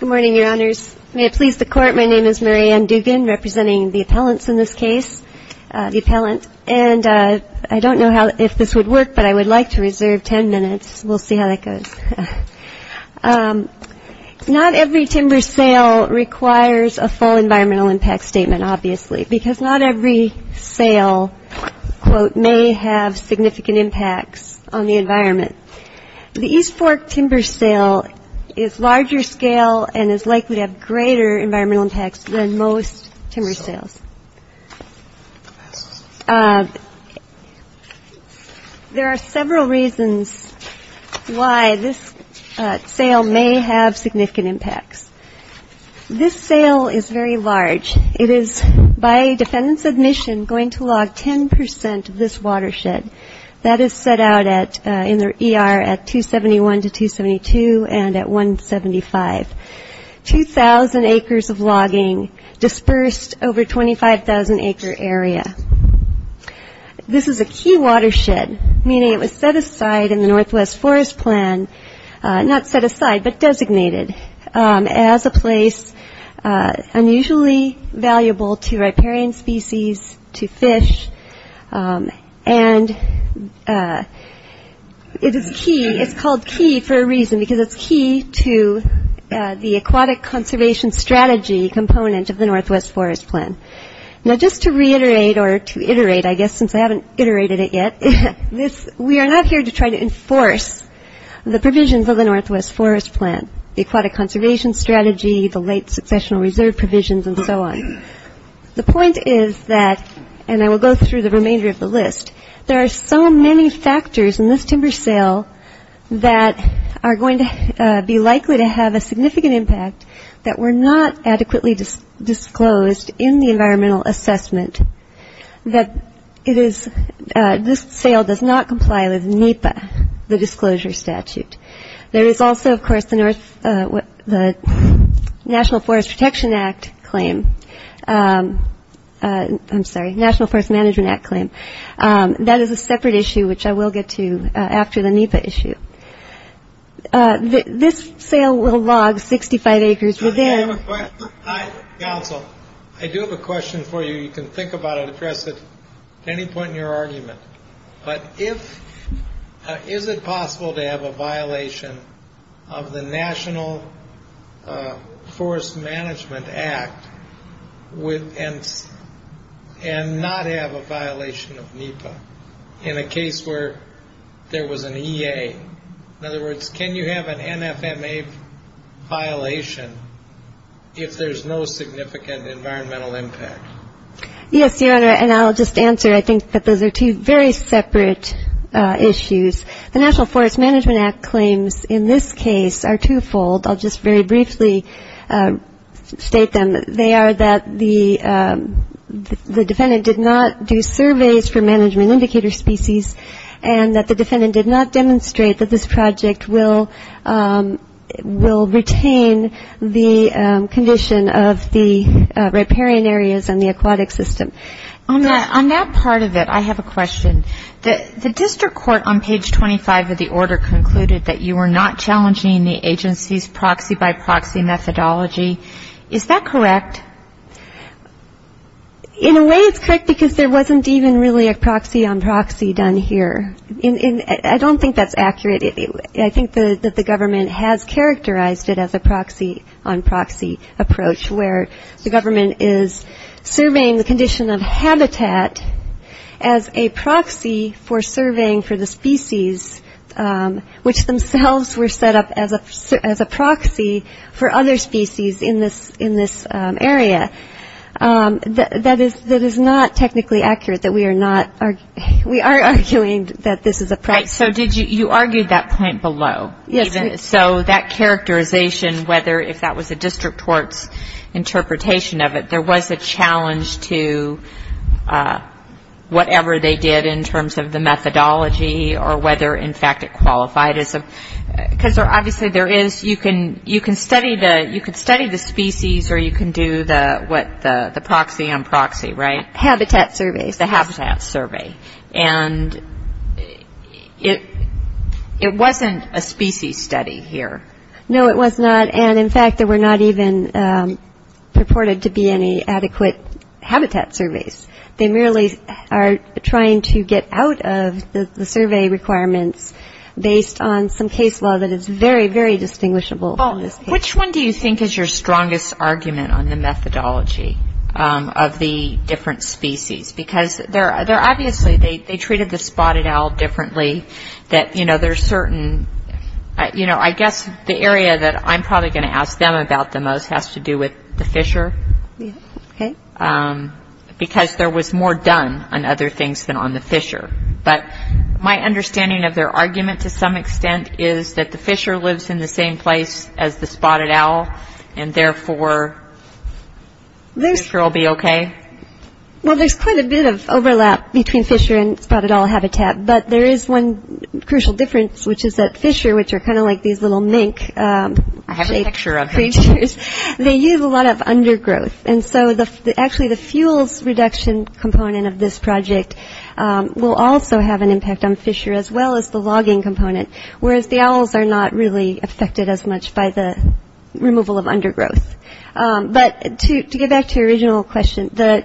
Good morning, Your Honors. May it please the Court, my name is Mary Ann Dugan, representing the appellants in this case. The appellant. And I don't know how, if this would work, but I would like to reserve 10 minutes. We'll see how that goes. Not every timber sale requires a full environmental impact statement, obviously, because not every sale, quote, may have significant impacts on the environment. The East Fork timber sale is larger scale and is likely to have greater environmental impacts than most timber sales. There are several reasons why this sale may have significant impacts. This sale is very large. It is, by defendant's admission, going to log 10 percent of this watershed. That is set out in the ER at 271 to 272 and at 175. Two thousand acres of logging dispersed over a 25,000 acre area. This is a key watershed, meaning it was set aside in the Northwest Forest Plan, not set aside, but designated, as a place unusually valuable to riparian species, to fish. And it is key. It's called key for a reason, because it's key to the aquatic conservation strategy component of the Northwest Forest Plan. Now, just to reiterate or to iterate, I guess, since I haven't iterated it yet, we are not here to try to enforce the provisions of the Northwest Forest Plan, the aquatic conservation strategy, the late successional reserve provisions and so on. The point is that, and I will go through the remainder of the list, there are so many factors in this timber sale that are going to be likely to have a significant impact that were not adequately disclosed in the environmental assessment. This sale does not comply with NEPA, the disclosure statute. There is also, of course, the National Forest Protection Act claim. I'm sorry, National Forest Management Act claim. That is a separate issue, which I will get to after the NEPA issue. This sale will log 65 acres within. Council, I do have a question for you. You can think about it, address it at any point in your argument. But is it possible to have a violation of the National Forest Management Act and not have a violation of NEPA in a case where there was an EA? In other words, can you have an NFMA violation if there's no significant environmental impact? Yes, Your Honor, and I'll just answer. I think that those are two very separate issues. The National Forest Management Act claims in this case are twofold. I'll just very briefly state them. They are that the defendant did not do surveys for management indicator species and that the defendant did not demonstrate that this project will retain the condition of the riparian areas and the aquatic system. On that part of it, I have a question. The district court on page 25 of the order concluded that you were not challenging the agency's proxy-by-proxy methodology. Is that correct? In a way, it's correct because there wasn't even really a proxy-on-proxy done here. I don't think that's accurate. I think that the government has characterized it as a proxy-on-proxy approach where the government is surveying the condition of habitat as a proxy for surveying for the species, which themselves were set up as a proxy for other species in this area. That is not technically accurate. We are arguing that this is a proxy. So you argued that point below? Yes. So that characterization, whether if that was a district court's interpretation of it, there was a challenge to whatever they did in terms of the methodology or whether, in fact, it qualified. Because obviously you can study the species or you can do the proxy-on-proxy, right? Habitat surveys. The habitat survey. And it wasn't a species study here. No, it was not. And, in fact, there were not even purported to be any adequate habitat surveys. They merely are trying to get out of the survey requirements based on some case law that is very, very distinguishable. Which one do you think is your strongest argument on the methodology of the different species? Because obviously they treated the spotted owl differently. I guess the area that I'm probably going to ask them about the most has to do with the fisher. Okay. Because there was more done on other things than on the fisher. But my understanding of their argument to some extent is that the fisher lives in the same place as the spotted owl, and therefore the fisher will be okay. Well, there's quite a bit of overlap between fisher and spotted owl habitat. But there is one crucial difference, which is that fisher, which are kind of like these little mink-shaped creatures, they use a lot of undergrowth. And so actually the fuels reduction component of this project will also have an impact on fisher as well as the logging component, whereas the owls are not really affected as much by the removal of undergrowth. But to get back to your original question, the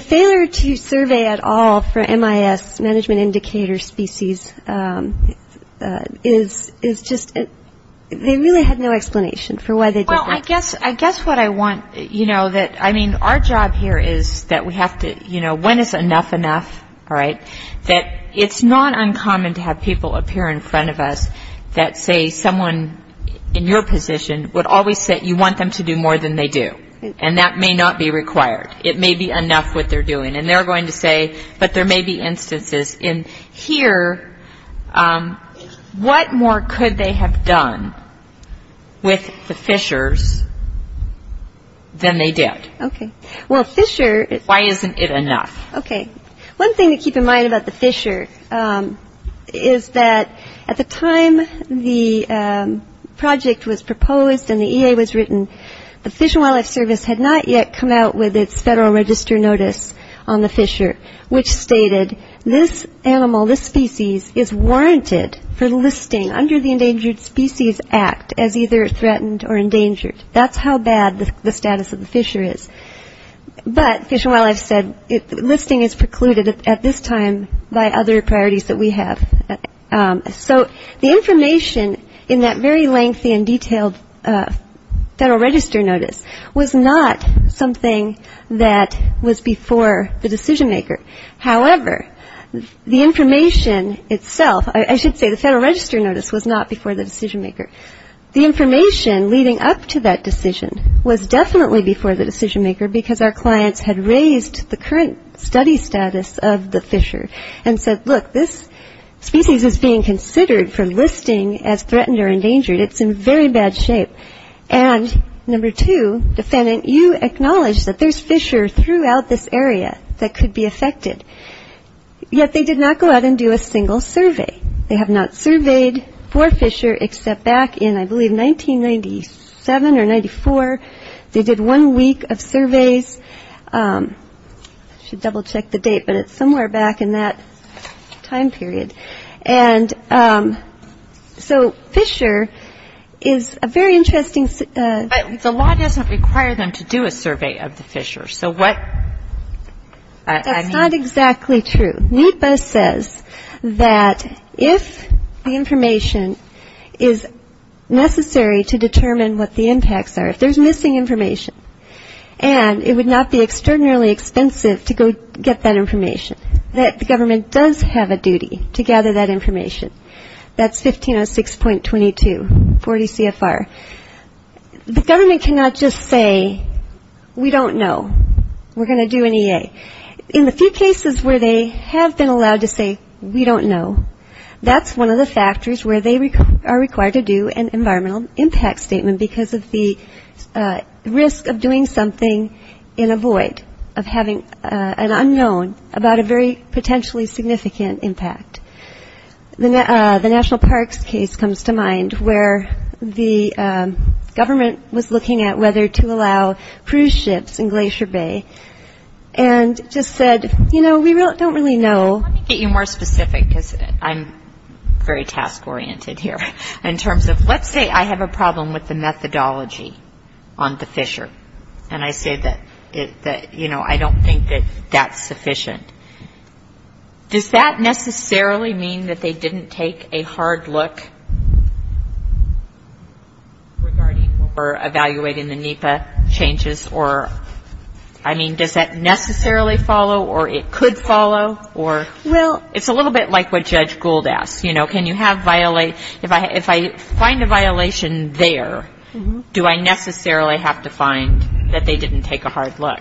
failure to survey at all for MIS, Management Indicator Species, is just they really had no explanation for why they did that. Well, I guess what I want, you know, that, I mean, our job here is that we have to, you know, when is enough enough, all right? That it's not uncommon to have people appear in front of us that say someone in your position would always say, you want them to do more than they do. And that may not be required. It may be enough what they're doing. And they're going to say, but there may be instances. And here, what more could they have done with the fishers than they did? Okay. Well, fisher is- Why isn't it enough? Okay. One thing to keep in mind about the fisher is that at the time the project was proposed and the EA was written, the Fish and Wildlife Service had not yet come out with its federal register notice on the fisher, which stated this animal, this species, is warranted for listing under the Endangered Species Act as either threatened or endangered. That's how bad the status of the fisher is. But Fish and Wildlife said listing is precluded at this time by other priorities that we have. So the information in that very lengthy and detailed federal register notice was not something that was before the decision maker. However, the information itself, I should say the federal register notice was not before the decision maker. The information leading up to that decision was definitely before the decision maker because our clients had raised the current study status of the fisher and said, look, this species is being considered for listing as threatened or endangered. It's in very bad shape. And number two, defendant, you acknowledge that there's fisher throughout this area that could be affected. Yet they did not go out and do a single survey. They have not surveyed for fisher except back in, I believe, 1997 or 94. They did one week of surveys. I should double check the date, but it's somewhere back in that time period. And so fisher is a very interesting... But the law doesn't require them to do a survey of the fisher. So what... That's not exactly true. NEPA says that if the information is necessary to determine what the impacts are, if there's missing information and it would not be extraordinarily expensive to go get that information, that the government does have a duty to gather that information. That's 1506.22, 40 CFR. The government cannot just say, we don't know, we're going to do an EA. In the few cases where they have been allowed to say, we don't know, that's one of the factors where they are required to do an environmental impact statement because of the risk of doing something in a void, of having an unknown about a very potentially significant impact. The National Parks case comes to mind, where the government was looking at whether to allow cruise ships in Glacier Bay. And just said, you know, we don't really know. Let me get you more specific because I'm very task-oriented here. In terms of, let's say I have a problem with the methodology on the fisher. And I say that, you know, I don't think that that's sufficient. Does that necessarily mean that they didn't take a hard look regarding or evaluating the NEPA changes? Or, I mean, does that necessarily follow or it could follow? It's a little bit like what Judge Gould asked. You know, if I find a violation there, do I necessarily have to find that they didn't take a hard look?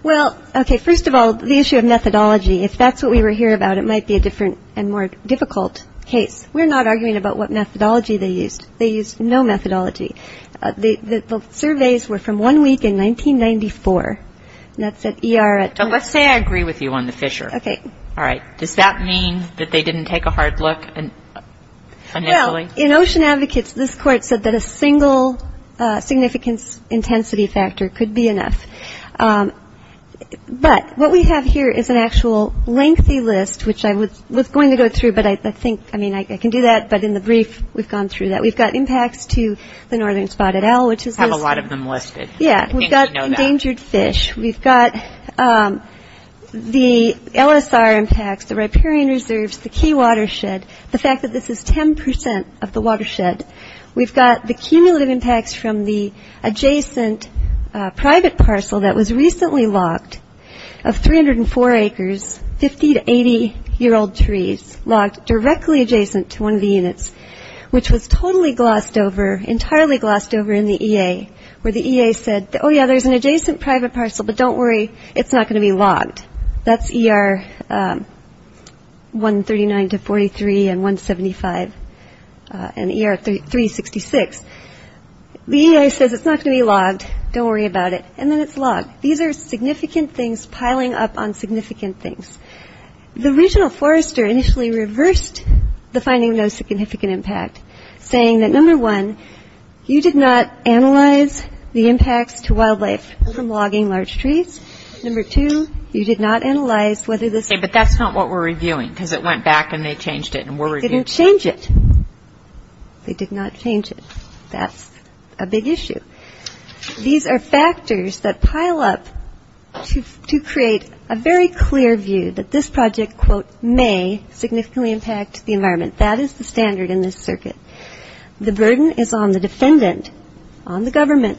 Well, okay, first of all, the issue of methodology, if that's what we were here about, it might be a different and more difficult case. We're not arguing about what methodology they used. They used no methodology. The surveys were from one week in 1994, and that's at ER at Toronto. Let's say I agree with you on the fisher. Okay. All right, does that mean that they didn't take a hard look initially? Well, in Ocean Advocates, this court said that a single significance intensity factor could be enough. But what we have here is an actual lengthy list, which I was going to go through, but I think, I mean, I can do that, but in the brief, we've gone through that. We've got impacts to the northern spotted owl, which is listed. We have a lot of them listed. Yeah, we've got endangered fish. We've got the LSR impacts, the riparian reserves, the key watershed, the fact that this is 10% of the watershed. We've got the cumulative impacts from the adjacent private parcel that was recently logged of 304 acres, 50- to 80-year-old trees, logged directly adjacent to one of the units, which was totally glossed over, entirely glossed over in the EA, where the EA said, oh, yeah, there's an adjacent private parcel, but don't worry, it's not going to be logged. That's ER 139-43 and 175 and ER 366. The EA says it's not going to be logged, don't worry about it, and then it's logged. These are significant things piling up on significant things. The regional forester initially reversed the finding of no significant impact, saying that, number one, you did not analyze the impacts to wildlife from logging large trees. Number two, you did not analyze whether this was... Okay, but that's not what we're reviewing because it went back and they changed it and we're reviewing... They didn't change it. They did not change it. That's a big issue. These are factors that pile up to create a very clear view that this project, quote, may significantly impact the environment. That is the standard in this circuit. The burden is on the defendant, on the government,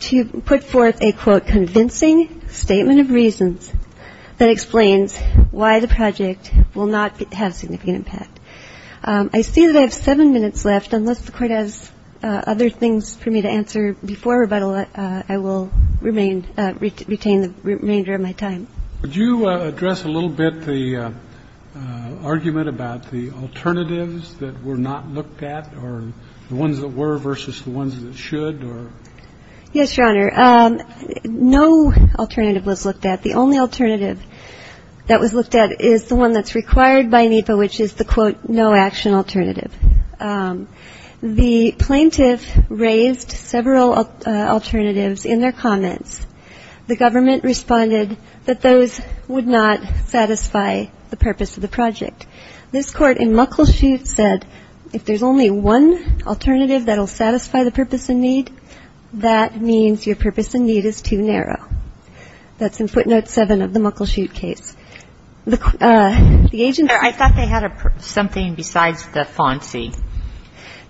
to put forth a, quote, convincing statement of reasons that explains why the project will not have significant impact. I see that I have seven minutes left, and unless the Court has other things for me to answer before rebuttal, I will retain the remainder of my time. Would you address a little bit the argument about the alternatives that were not looked at or the ones that were versus the ones that should? Yes, Your Honor. No alternative was looked at. The only alternative that was looked at is the one that's required by NEPA, which is the, quote, no action alternative. The plaintiff raised several alternatives in their comments. The government responded that those would not satisfy the purpose of the project. This Court in Muckleshoot said, if there's only one alternative that will satisfy the purpose and need, that means your purpose and need is too narrow. That's in footnote 7 of the Muckleshoot case. I thought they had something besides the fancy.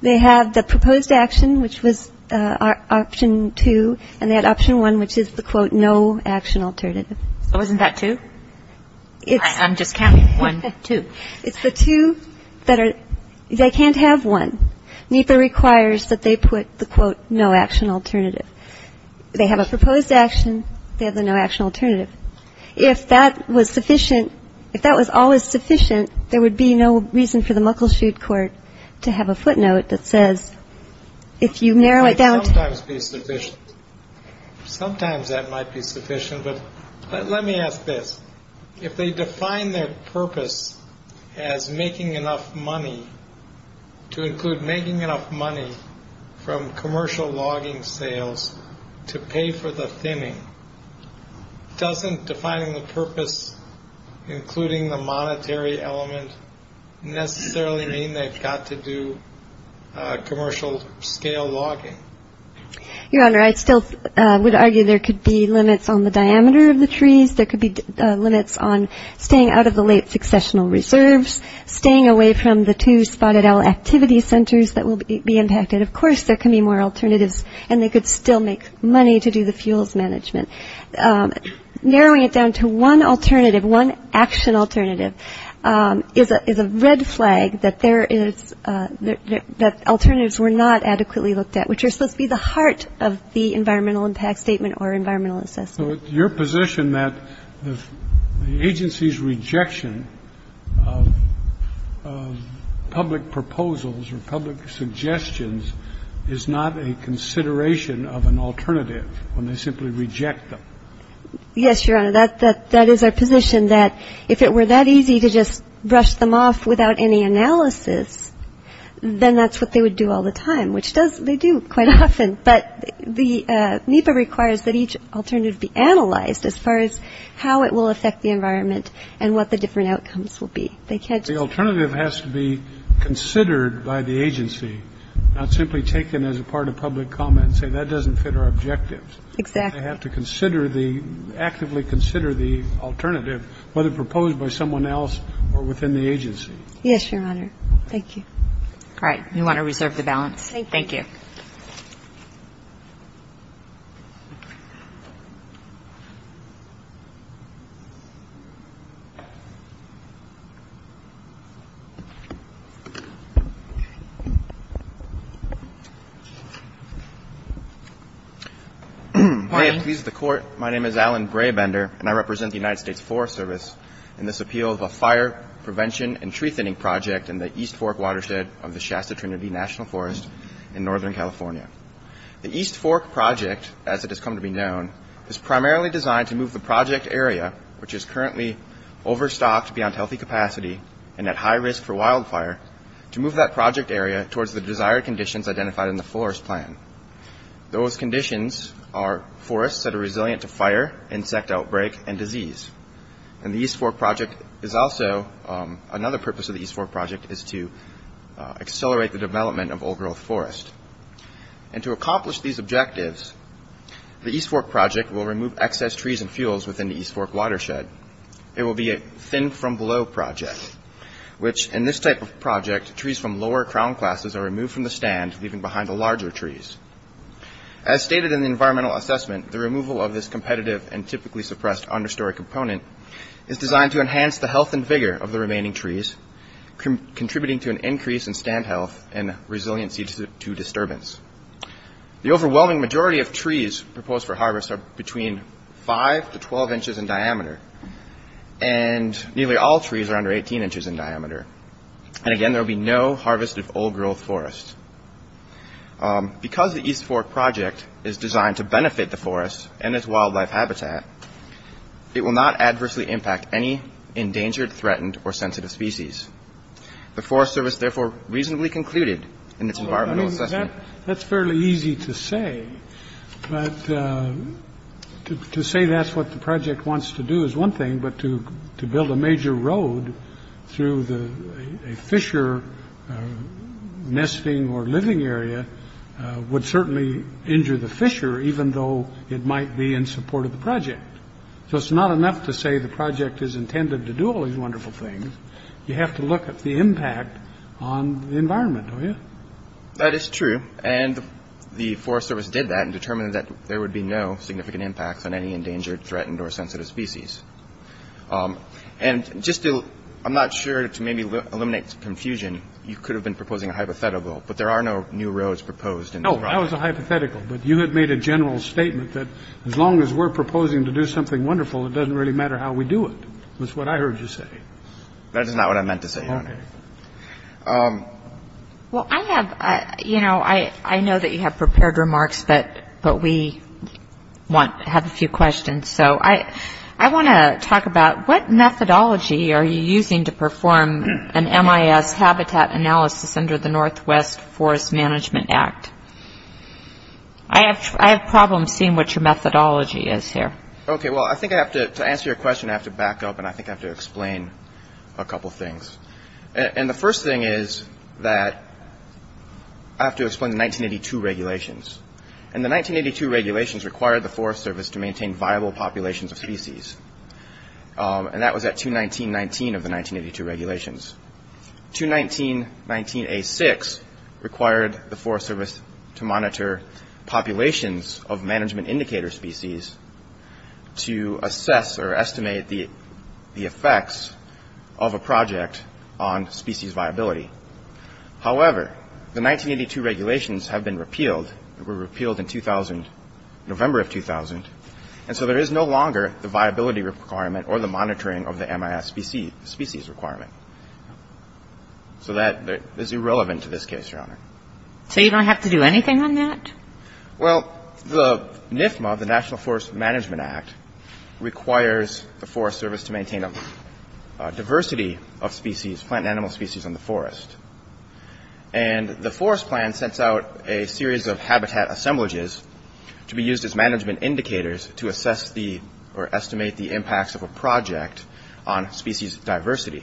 They have the proposed action, which was option two, and they had option one, which is the, quote, no action alternative. So wasn't that two? I'm just counting. One, two. It's the two that are they can't have one. NEPA requires that they put the, quote, no action alternative. They have a proposed action. They have the no action alternative. If that was sufficient, if that was always sufficient, there would be no reason for the Muckleshoot court to have a footnote that says, if you narrow it down to. It might sometimes be sufficient. Sometimes that might be sufficient. But let me ask this. If they define their purpose as making enough money to include making enough money from commercial logging sales to pay for the thinning, doesn't defining the purpose, including the monetary element, necessarily mean they've got to do commercial scale logging? Your Honor, I still would argue there could be limits on the diameter of the trees. There could be limits on staying out of the late successional reserves, staying away from the two spotted owl activity centers that will be impacted. Of course, there can be more alternatives, and they could still make money to do the fuels management. Narrowing it down to one alternative, one action alternative, is a red flag that there is that alternatives were not adequately looked at, which are supposed to be the heart of the environmental impact statement or environmental assessment. So it's your position that the agency's rejection of public proposals or public suggestions is not a consideration of an alternative when they simply reject them? Yes, Your Honor, that is our position, that if it were that easy to just brush them off without any analysis, then that's what they would do all the time, which they do quite often. But the NEPA requires that each alternative be analyzed as far as how it will affect the environment and what the different outcomes will be. The alternative has to be considered by the agency, not simply taken as a part of public comment and say that doesn't fit our objectives. Exactly. They have to consider the, actively consider the alternative, whether proposed by someone else or within the agency. Yes, Your Honor. Thank you. All right. You want to reserve the balance? Thank you. Please be seated. May it please the Court, my name is Alan Brabender, and I represent the United States Forest Service in this appeal of a fire prevention and tree thinning project in the East Fork Watershed of the Shasta Trinity National Forest in Northern California. The East Fork project, as it has come to be known, is primarily designed to move the project area, which is currently overstocked beyond healthy capacity and at high risk for wildfire, to move that project area towards the desired conditions identified in the forest plan. Those conditions are forests that are resilient to fire, insect outbreak, and disease. Another purpose of the East Fork project is to accelerate the development of old-growth forest. To accomplish these objectives, the East Fork project will remove excess trees and fuels within the East Fork Watershed. It will be a thin-from-below project, which in this type of project, trees from lower crown classes are removed from the stand, leaving behind the larger trees. As stated in the environmental assessment, the removal of this competitive and typically suppressed understory component is designed to enhance the health and vigor of the remaining trees, contributing to an increase in stand health and resiliency to disturbance. The overwhelming majority of trees proposed for harvest are between 5 to 12 inches in diameter, and nearly all trees are under 18 inches in diameter. And again, there will be no harvested old-growth forest. Because the East Fork project is designed to benefit the forest and its wildlife habitat, it will not adversely impact any endangered, threatened, or sensitive species. The Forest Service therefore reasonably concluded in its environmental assessment. That's fairly easy to say, but to say that's what the project wants to do is one thing, but to build a major road through a fissure nesting or living area would certainly injure the fissure, even though it might be in support of the project. So it's not enough to say the project is intended to do all these wonderful things. You have to look at the impact on the environment, don't you? That is true, and the Forest Service did that and determined that there would be no significant impacts on any endangered, threatened, or sensitive species. And just to, I'm not sure, to maybe eliminate confusion, you could have been proposing a hypothetical, but there are no new roads proposed in this project. No, that was a hypothetical, but you had made a general statement that as long as we're proposing to do something wonderful, it doesn't really matter how we do it, was what I heard you say. Well, I have, you know, I know that you have prepared remarks, but we have a few questions. So I want to talk about what methodology are you using to perform an MIS habitat analysis under the Northwest Forest Management Act? I have problems seeing what your methodology is here. Okay, well, I think I have to, to answer your question, I have to back up and I think I have to explain a couple things. And the first thing is that I have to explain the 1982 regulations. And the 1982 regulations required the Forest Service to maintain viable populations of species. And that was at 219.19 of the 1982 regulations. 219.19.A6 required the Forest Service to monitor populations of management indicator species to assess or estimate the effects of a project on species viability. However, the 1982 regulations have been repealed, were repealed in 2000, November of 2000, and so there is no longer the viability requirement or the monitoring of the MIS species requirement. So that is irrelevant to this case, Your Honor. So you don't have to do anything on that? Well, the NFMA, the National Forest Management Act, requires the Forest Service to maintain a diversity of species, plant and animal species in the forest. And the Forest Plan sets out a series of habitat assemblages to be used as management indicators to assess the or estimate the impacts of a project on species diversity.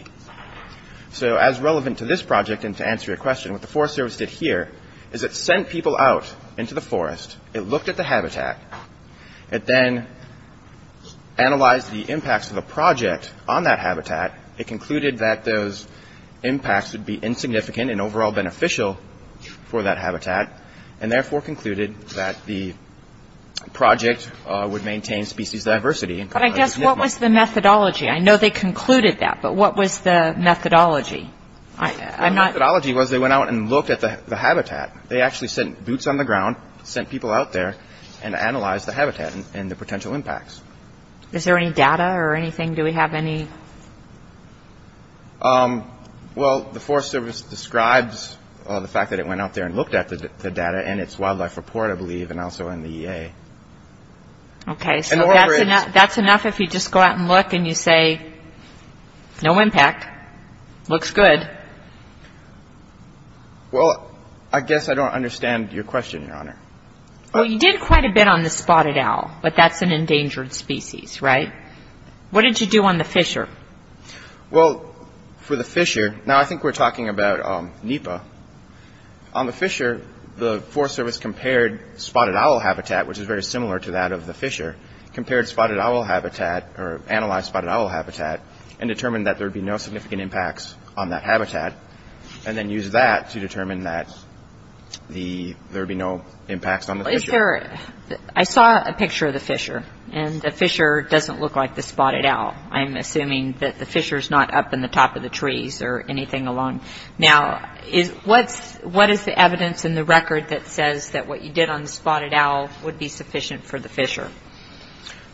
So as relevant to this project and to answer your question, what the Forest Service did here is it sent people out into the forest. It looked at the habitat. It then analyzed the impacts of a project on that habitat. It concluded that those impacts would be insignificant and overall beneficial for that habitat and therefore concluded that the project would maintain species diversity. But I guess what was the methodology? I know they concluded that, but what was the methodology? The methodology was they went out and looked at the habitat. They actually sent boots on the ground, sent people out there, and analyzed the habitat and the potential impacts. Is there any data or anything? Do we have any? Well, the Forest Service describes the fact that it went out there and looked at the data in its wildlife report, I believe, and also in the EA. Okay, so that's enough if you just go out and look and you say, no impact, looks good. Well, I guess I don't understand your question, Your Honor. Well, you did quite a bit on the spotted owl, but that's an endangered species, right? What did you do on the fissure? Well, for the fissure, now I think we're talking about NEPA. On the fissure, the Forest Service compared spotted owl habitat, which is very similar to that of the fissure, compared spotted owl habitat or analyzed spotted owl habitat and determined that there would be no significant impacts on that habitat and then used that to determine that there would be no impacts on the fissure. I saw a picture of the fissure, and the fissure doesn't look like the spotted owl. I'm assuming that the fissure's not up in the top of the trees or anything along. Now, what is the evidence in the record that says that what you did on the spotted owl would be sufficient for the fissure?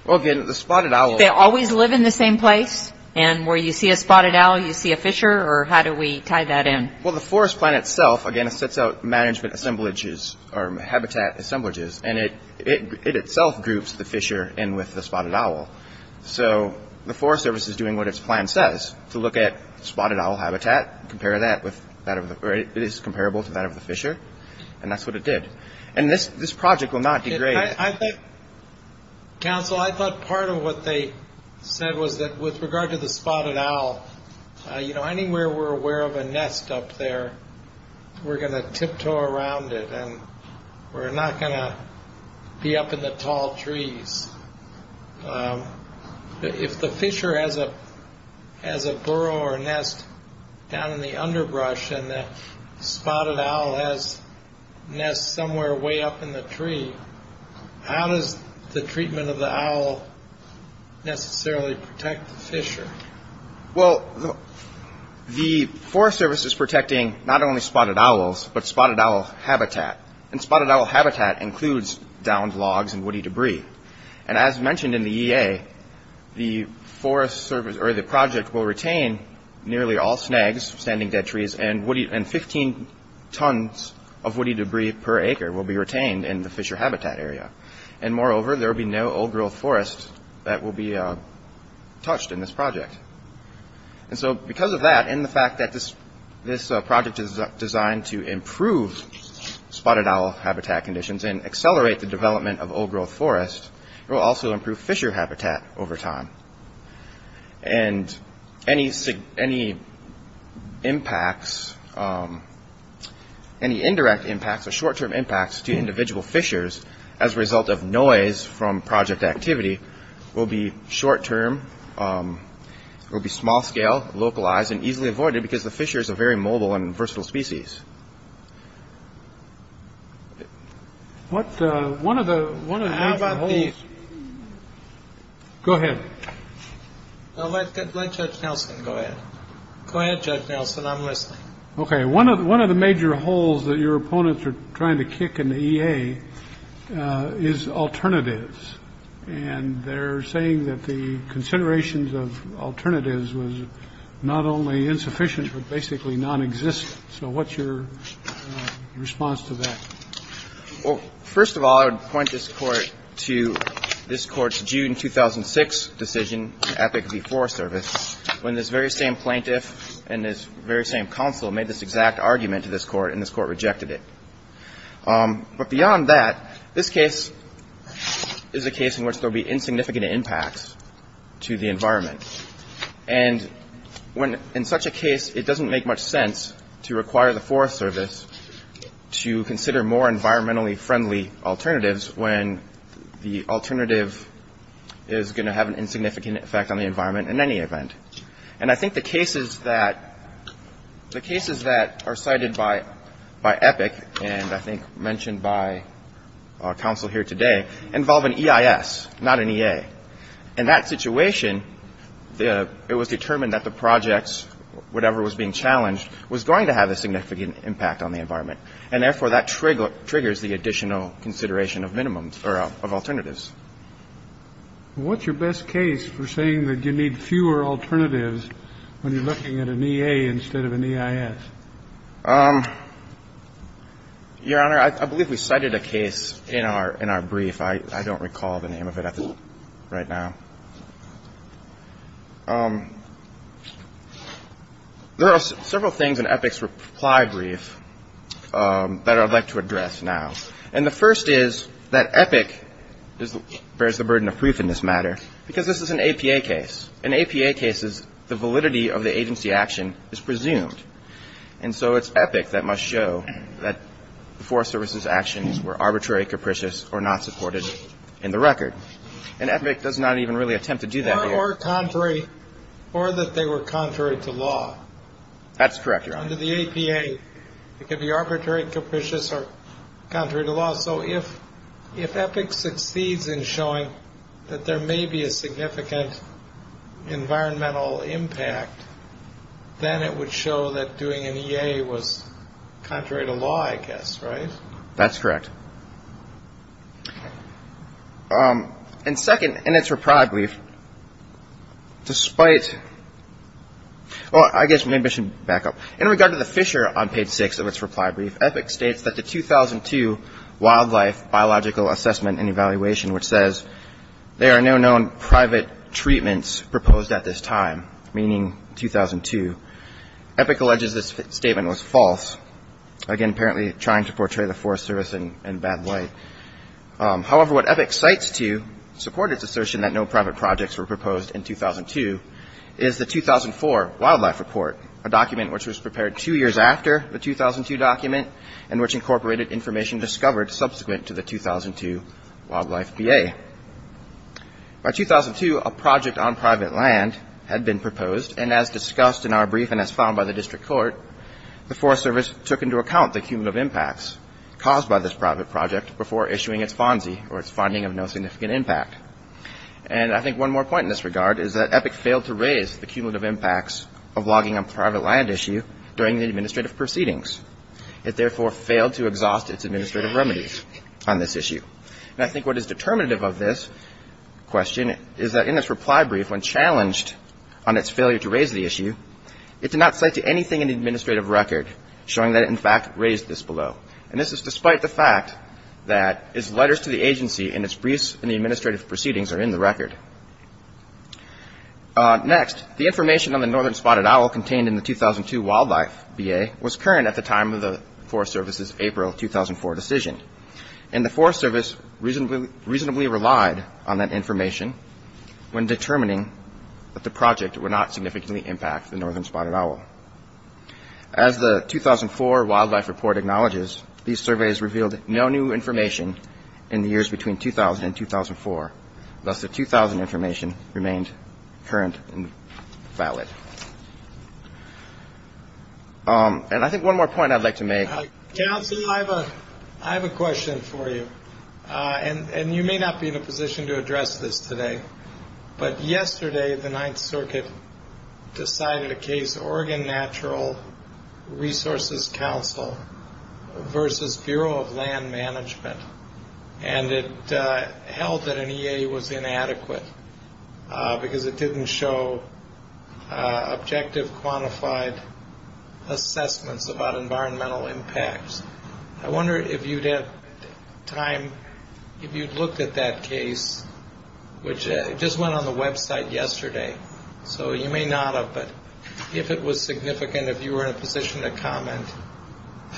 Well, again, the spotted owl— They always live in the same place? And where you see a spotted owl, you see a fissure? Or how do we tie that in? Well, the Forest Plan itself, again, it sets out management assemblages or habitat assemblages, and it itself groups the fissure in with the spotted owl. So the Forest Service is doing what its plan says to look at spotted owl habitat, compare that with that of the—or it is comparable to that of the fissure, and that's what it did. And this project will not degrade. Counsel, I thought part of what they said was that with regard to the spotted owl, you know, anywhere we're aware of a nest up there, we're going to tiptoe around it, and we're not going to be up in the tall trees. If the fissure has a burrow or a nest down in the underbrush and the spotted owl has nests somewhere way up in the tree, how does the treatment of the owl necessarily protect the fissure? Well, the Forest Service is protecting not only spotted owls but spotted owl habitat, and spotted owl habitat includes downed logs and woody debris. And as mentioned in the EA, the project will retain nearly all snags, standing dead trees, and 15 tons of woody debris per acre will be retained in the fissure habitat area. And moreover, there will be no old-growth forest that will be touched in this project. And so because of that, and the fact that this project is designed to improve spotted owl habitat conditions and accelerate the development of old-growth forest, it will also improve fissure habitat over time. And any impacts, any indirect impacts or short-term impacts to individual fissures as a result of noise from project activity will be short-term, will be small-scale, localized, and easily avoided because the fissures are very mobile and versatile species. What one of the one of these. Go ahead. Let Judge Nelson go ahead. Go ahead, Judge Nelson. I'm listening. OK. One of the one of the major holes that your opponents are trying to kick in the EA is alternatives. And they're saying that the considerations of alternatives was not only insufficient, but basically nonexistent. So what's your response to that? Well, first of all, I would point this court to this court's June 2006 decision at the Forest Service when this very same plaintiff and this very same counsel made this exact argument to this court and this court rejected it. But beyond that, this case is a case in which there'll be insignificant impacts to the environment. And when in such a case, it doesn't make much sense to require the Forest Service to consider more environmentally friendly alternatives when the alternative is going to have an insignificant effect on the environment in any event. And I think the cases that the cases that are cited by by Epic and I think mentioned by counsel here today involve an EIS, not an EA. In that situation, it was determined that the projects, whatever was being challenged, was going to have a significant impact on the environment. And therefore, that trigger triggers the additional consideration of minimums or of alternatives. What's your best case for saying that you need fewer alternatives when you're looking at an EA instead of an EIS? Your Honor, I believe we cited a case in our brief. I don't recall the name of it right now. There are several things in Epic's reply brief that I'd like to address now. And the first is that Epic bears the burden of proof in this matter because this is an APA case. In APA cases, the validity of the agency action is presumed. And so it's Epic that must show that the Forest Service's actions were arbitrary, capricious or not supported in the record. And Epic does not even really attempt to do that here. Or that they were contrary to law. That's correct, Your Honor. Under the APA, it could be arbitrary, capricious or contrary to law. So if Epic succeeds in showing that there may be a significant environmental impact, then it would show that doing an EA was contrary to law, I guess. Right? That's correct. And second, in its reply brief, despite – well, I guess maybe I should back up. In regard to the Fisher on page 6 of its reply brief, there are no known private treatments proposed at this time, meaning 2002. Epic alleges this statement was false. Again, apparently trying to portray the Forest Service in bad light. However, what Epic cites to support its assertion that no private projects were proposed in 2002 is the 2004 wildlife report, a document which was prepared two years after the 2002 document and which incorporated information discovered subsequent to the 2002 wildlife EA. By 2002, a project on private land had been proposed. And as discussed in our brief and as found by the district court, the Forest Service took into account the cumulative impacts caused by this private project before issuing its FONSI, or its finding of no significant impact. And I think one more point in this regard is that Epic failed to raise the cumulative impacts of logging on private land issue during the administrative proceedings. It therefore failed to exhaust its administrative remedies on this issue. And I think what is determinative of this question is that in its reply brief, when challenged on its failure to raise the issue, it did not cite to anything in the administrative record showing that it in fact raised this below. And this is despite the fact that its letters to the agency and its briefs in the administrative proceedings are in the record. Next, the information on the Northern Spotted Owl contained in the 2002 wildlife EA was current at the time of the Forest Service's April 2004 decision. And the Forest Service reasonably relied on that information when determining that the project would not significantly impact the Northern Spotted Owl. As the 2004 wildlife report acknowledges, these surveys revealed no new information in the years between 2000 and 2004. Thus, the 2000 information remained current and valid. And I think one more point I'd like to make. Council, I have a question for you. And you may not be in a position to address this today, but yesterday the Ninth Circuit decided a case, Oregon Natural Resources Council versus Bureau of Land Management. And it held that an EA was inadequate because it didn't show objective quantified assessments about environmental impacts. I wonder if you'd have time, if you'd looked at that case, which just went on the website yesterday, so you may not have, but if it was significant, if you were in a position to comment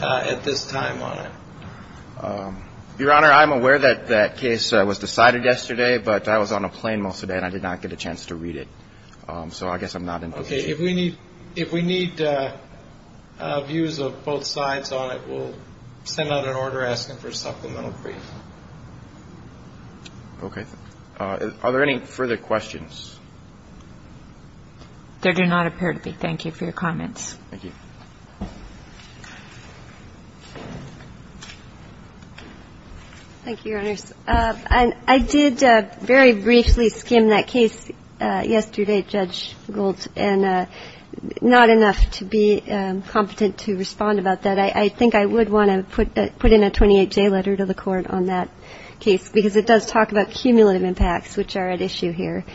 at this time on it. Your Honor, I'm aware that that case was decided yesterday, but I was on a plane most of the day and I did not get a chance to read it. So I guess I'm not in a position. Okay. If we need views of both sides on it, we'll send out an order asking for a supplemental brief. Okay. Are there any further questions? There do not appear to be. Thank you for your comments. Thank you. Thank you, Your Honors. I did very briefly skim that case yesterday, Judge Gould, and not enough to be competent to respond about that. I think I would want to put in a 28-J letter to the Court on that case because it does talk about cumulative impacts, which are at issue here.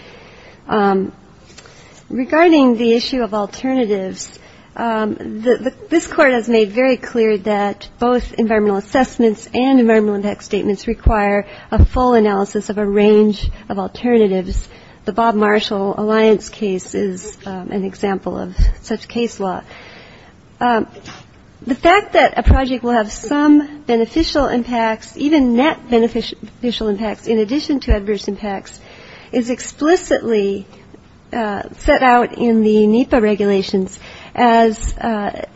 Regarding the issue of alternatives, this Court has made very clear that both environmental assessments and environmental impact statements require a full analysis of a range of alternatives. The Bob Marshall Alliance case is an example of such case law. The fact that a project will have some beneficial impacts, even net beneficial impacts in addition to adverse impacts, is explicitly set out in the NEPA regulations as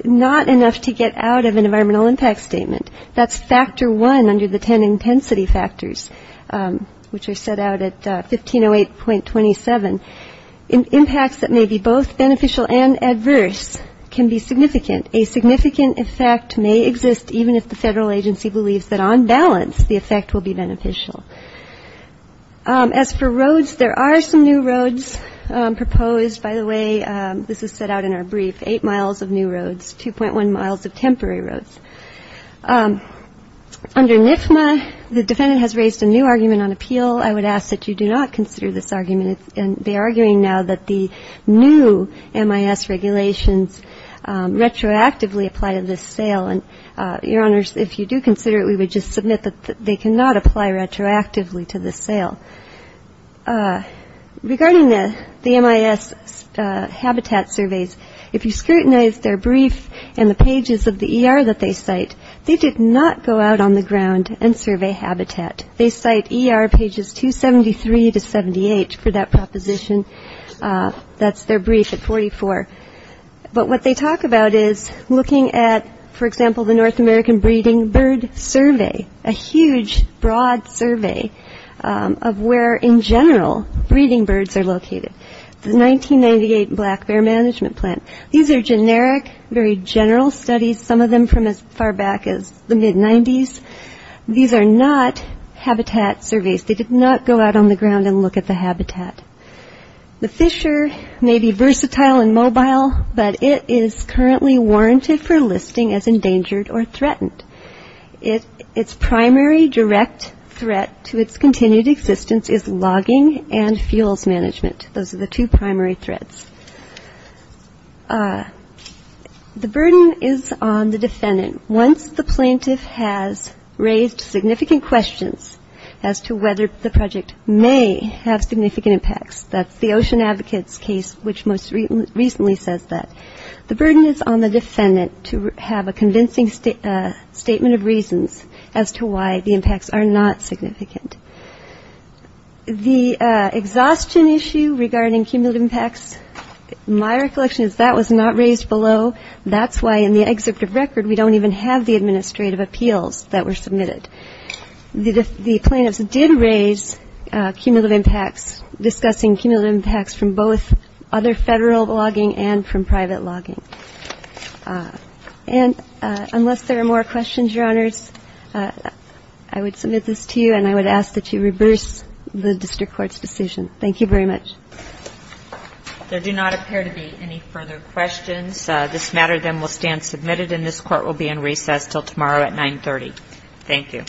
not enough to get out of an environmental impact statement. That's factor one under the ten intensity factors, which are set out at 1508.27. Impacts that may be both beneficial and adverse can be significant. A significant effect may exist, even if the federal agency believes that on balance the effect will be beneficial. As for roads, there are some new roads proposed. By the way, this is set out in our brief, eight miles of new roads, 2.1 miles of temporary roads. Under NIFMA, the defendant has raised a new argument on appeal. I would ask that you do not consider this argument. They are arguing now that the new MIS regulations retroactively apply to this sale. And, Your Honors, if you do consider it, we would just submit that they cannot apply retroactively to this sale. Regarding the MIS habitat surveys, if you scrutinize their brief and the pages of the ER that they cite, they did not go out on the ground and survey habitat. They cite ER pages 273 to 78 for that proposition. That's their brief at 44. But what they talk about is looking at, for example, the North American Breeding Bird Survey, a huge, broad survey of where, in general, breeding birds are located. The 1998 Black Bear Management Plan. These are generic, very general studies, some of them from as far back as the mid-'90s. These are not habitat surveys. They did not go out on the ground and look at the habitat. The Fisher may be versatile and mobile, but it is currently warranted for listing as endangered or threatened. Its primary direct threat to its continued existence is logging and fuels management. Those are the two primary threats. The burden is on the defendant. Once the plaintiff has raised significant questions as to whether the project may have significant impacts, that's the Ocean Advocates case which most recently says that, the burden is on the defendant to have a convincing statement of reasons as to why the impacts are not significant. The exhaustion issue regarding cumulative impacts, my recollection is that was not raised below. That's why in the executive record we don't even have the administrative appeals that were submitted. The plaintiffs did raise cumulative impacts, discussing cumulative impacts from both other federal logging and from private logging. And unless there are more questions, Your Honors, I would submit this to you, and I would ask that you reverse the district court's decision. Thank you very much. There do not appear to be any further questions. This matter then will stand submitted, and this court will be in recess until tomorrow at 930. Thank you. Thank you.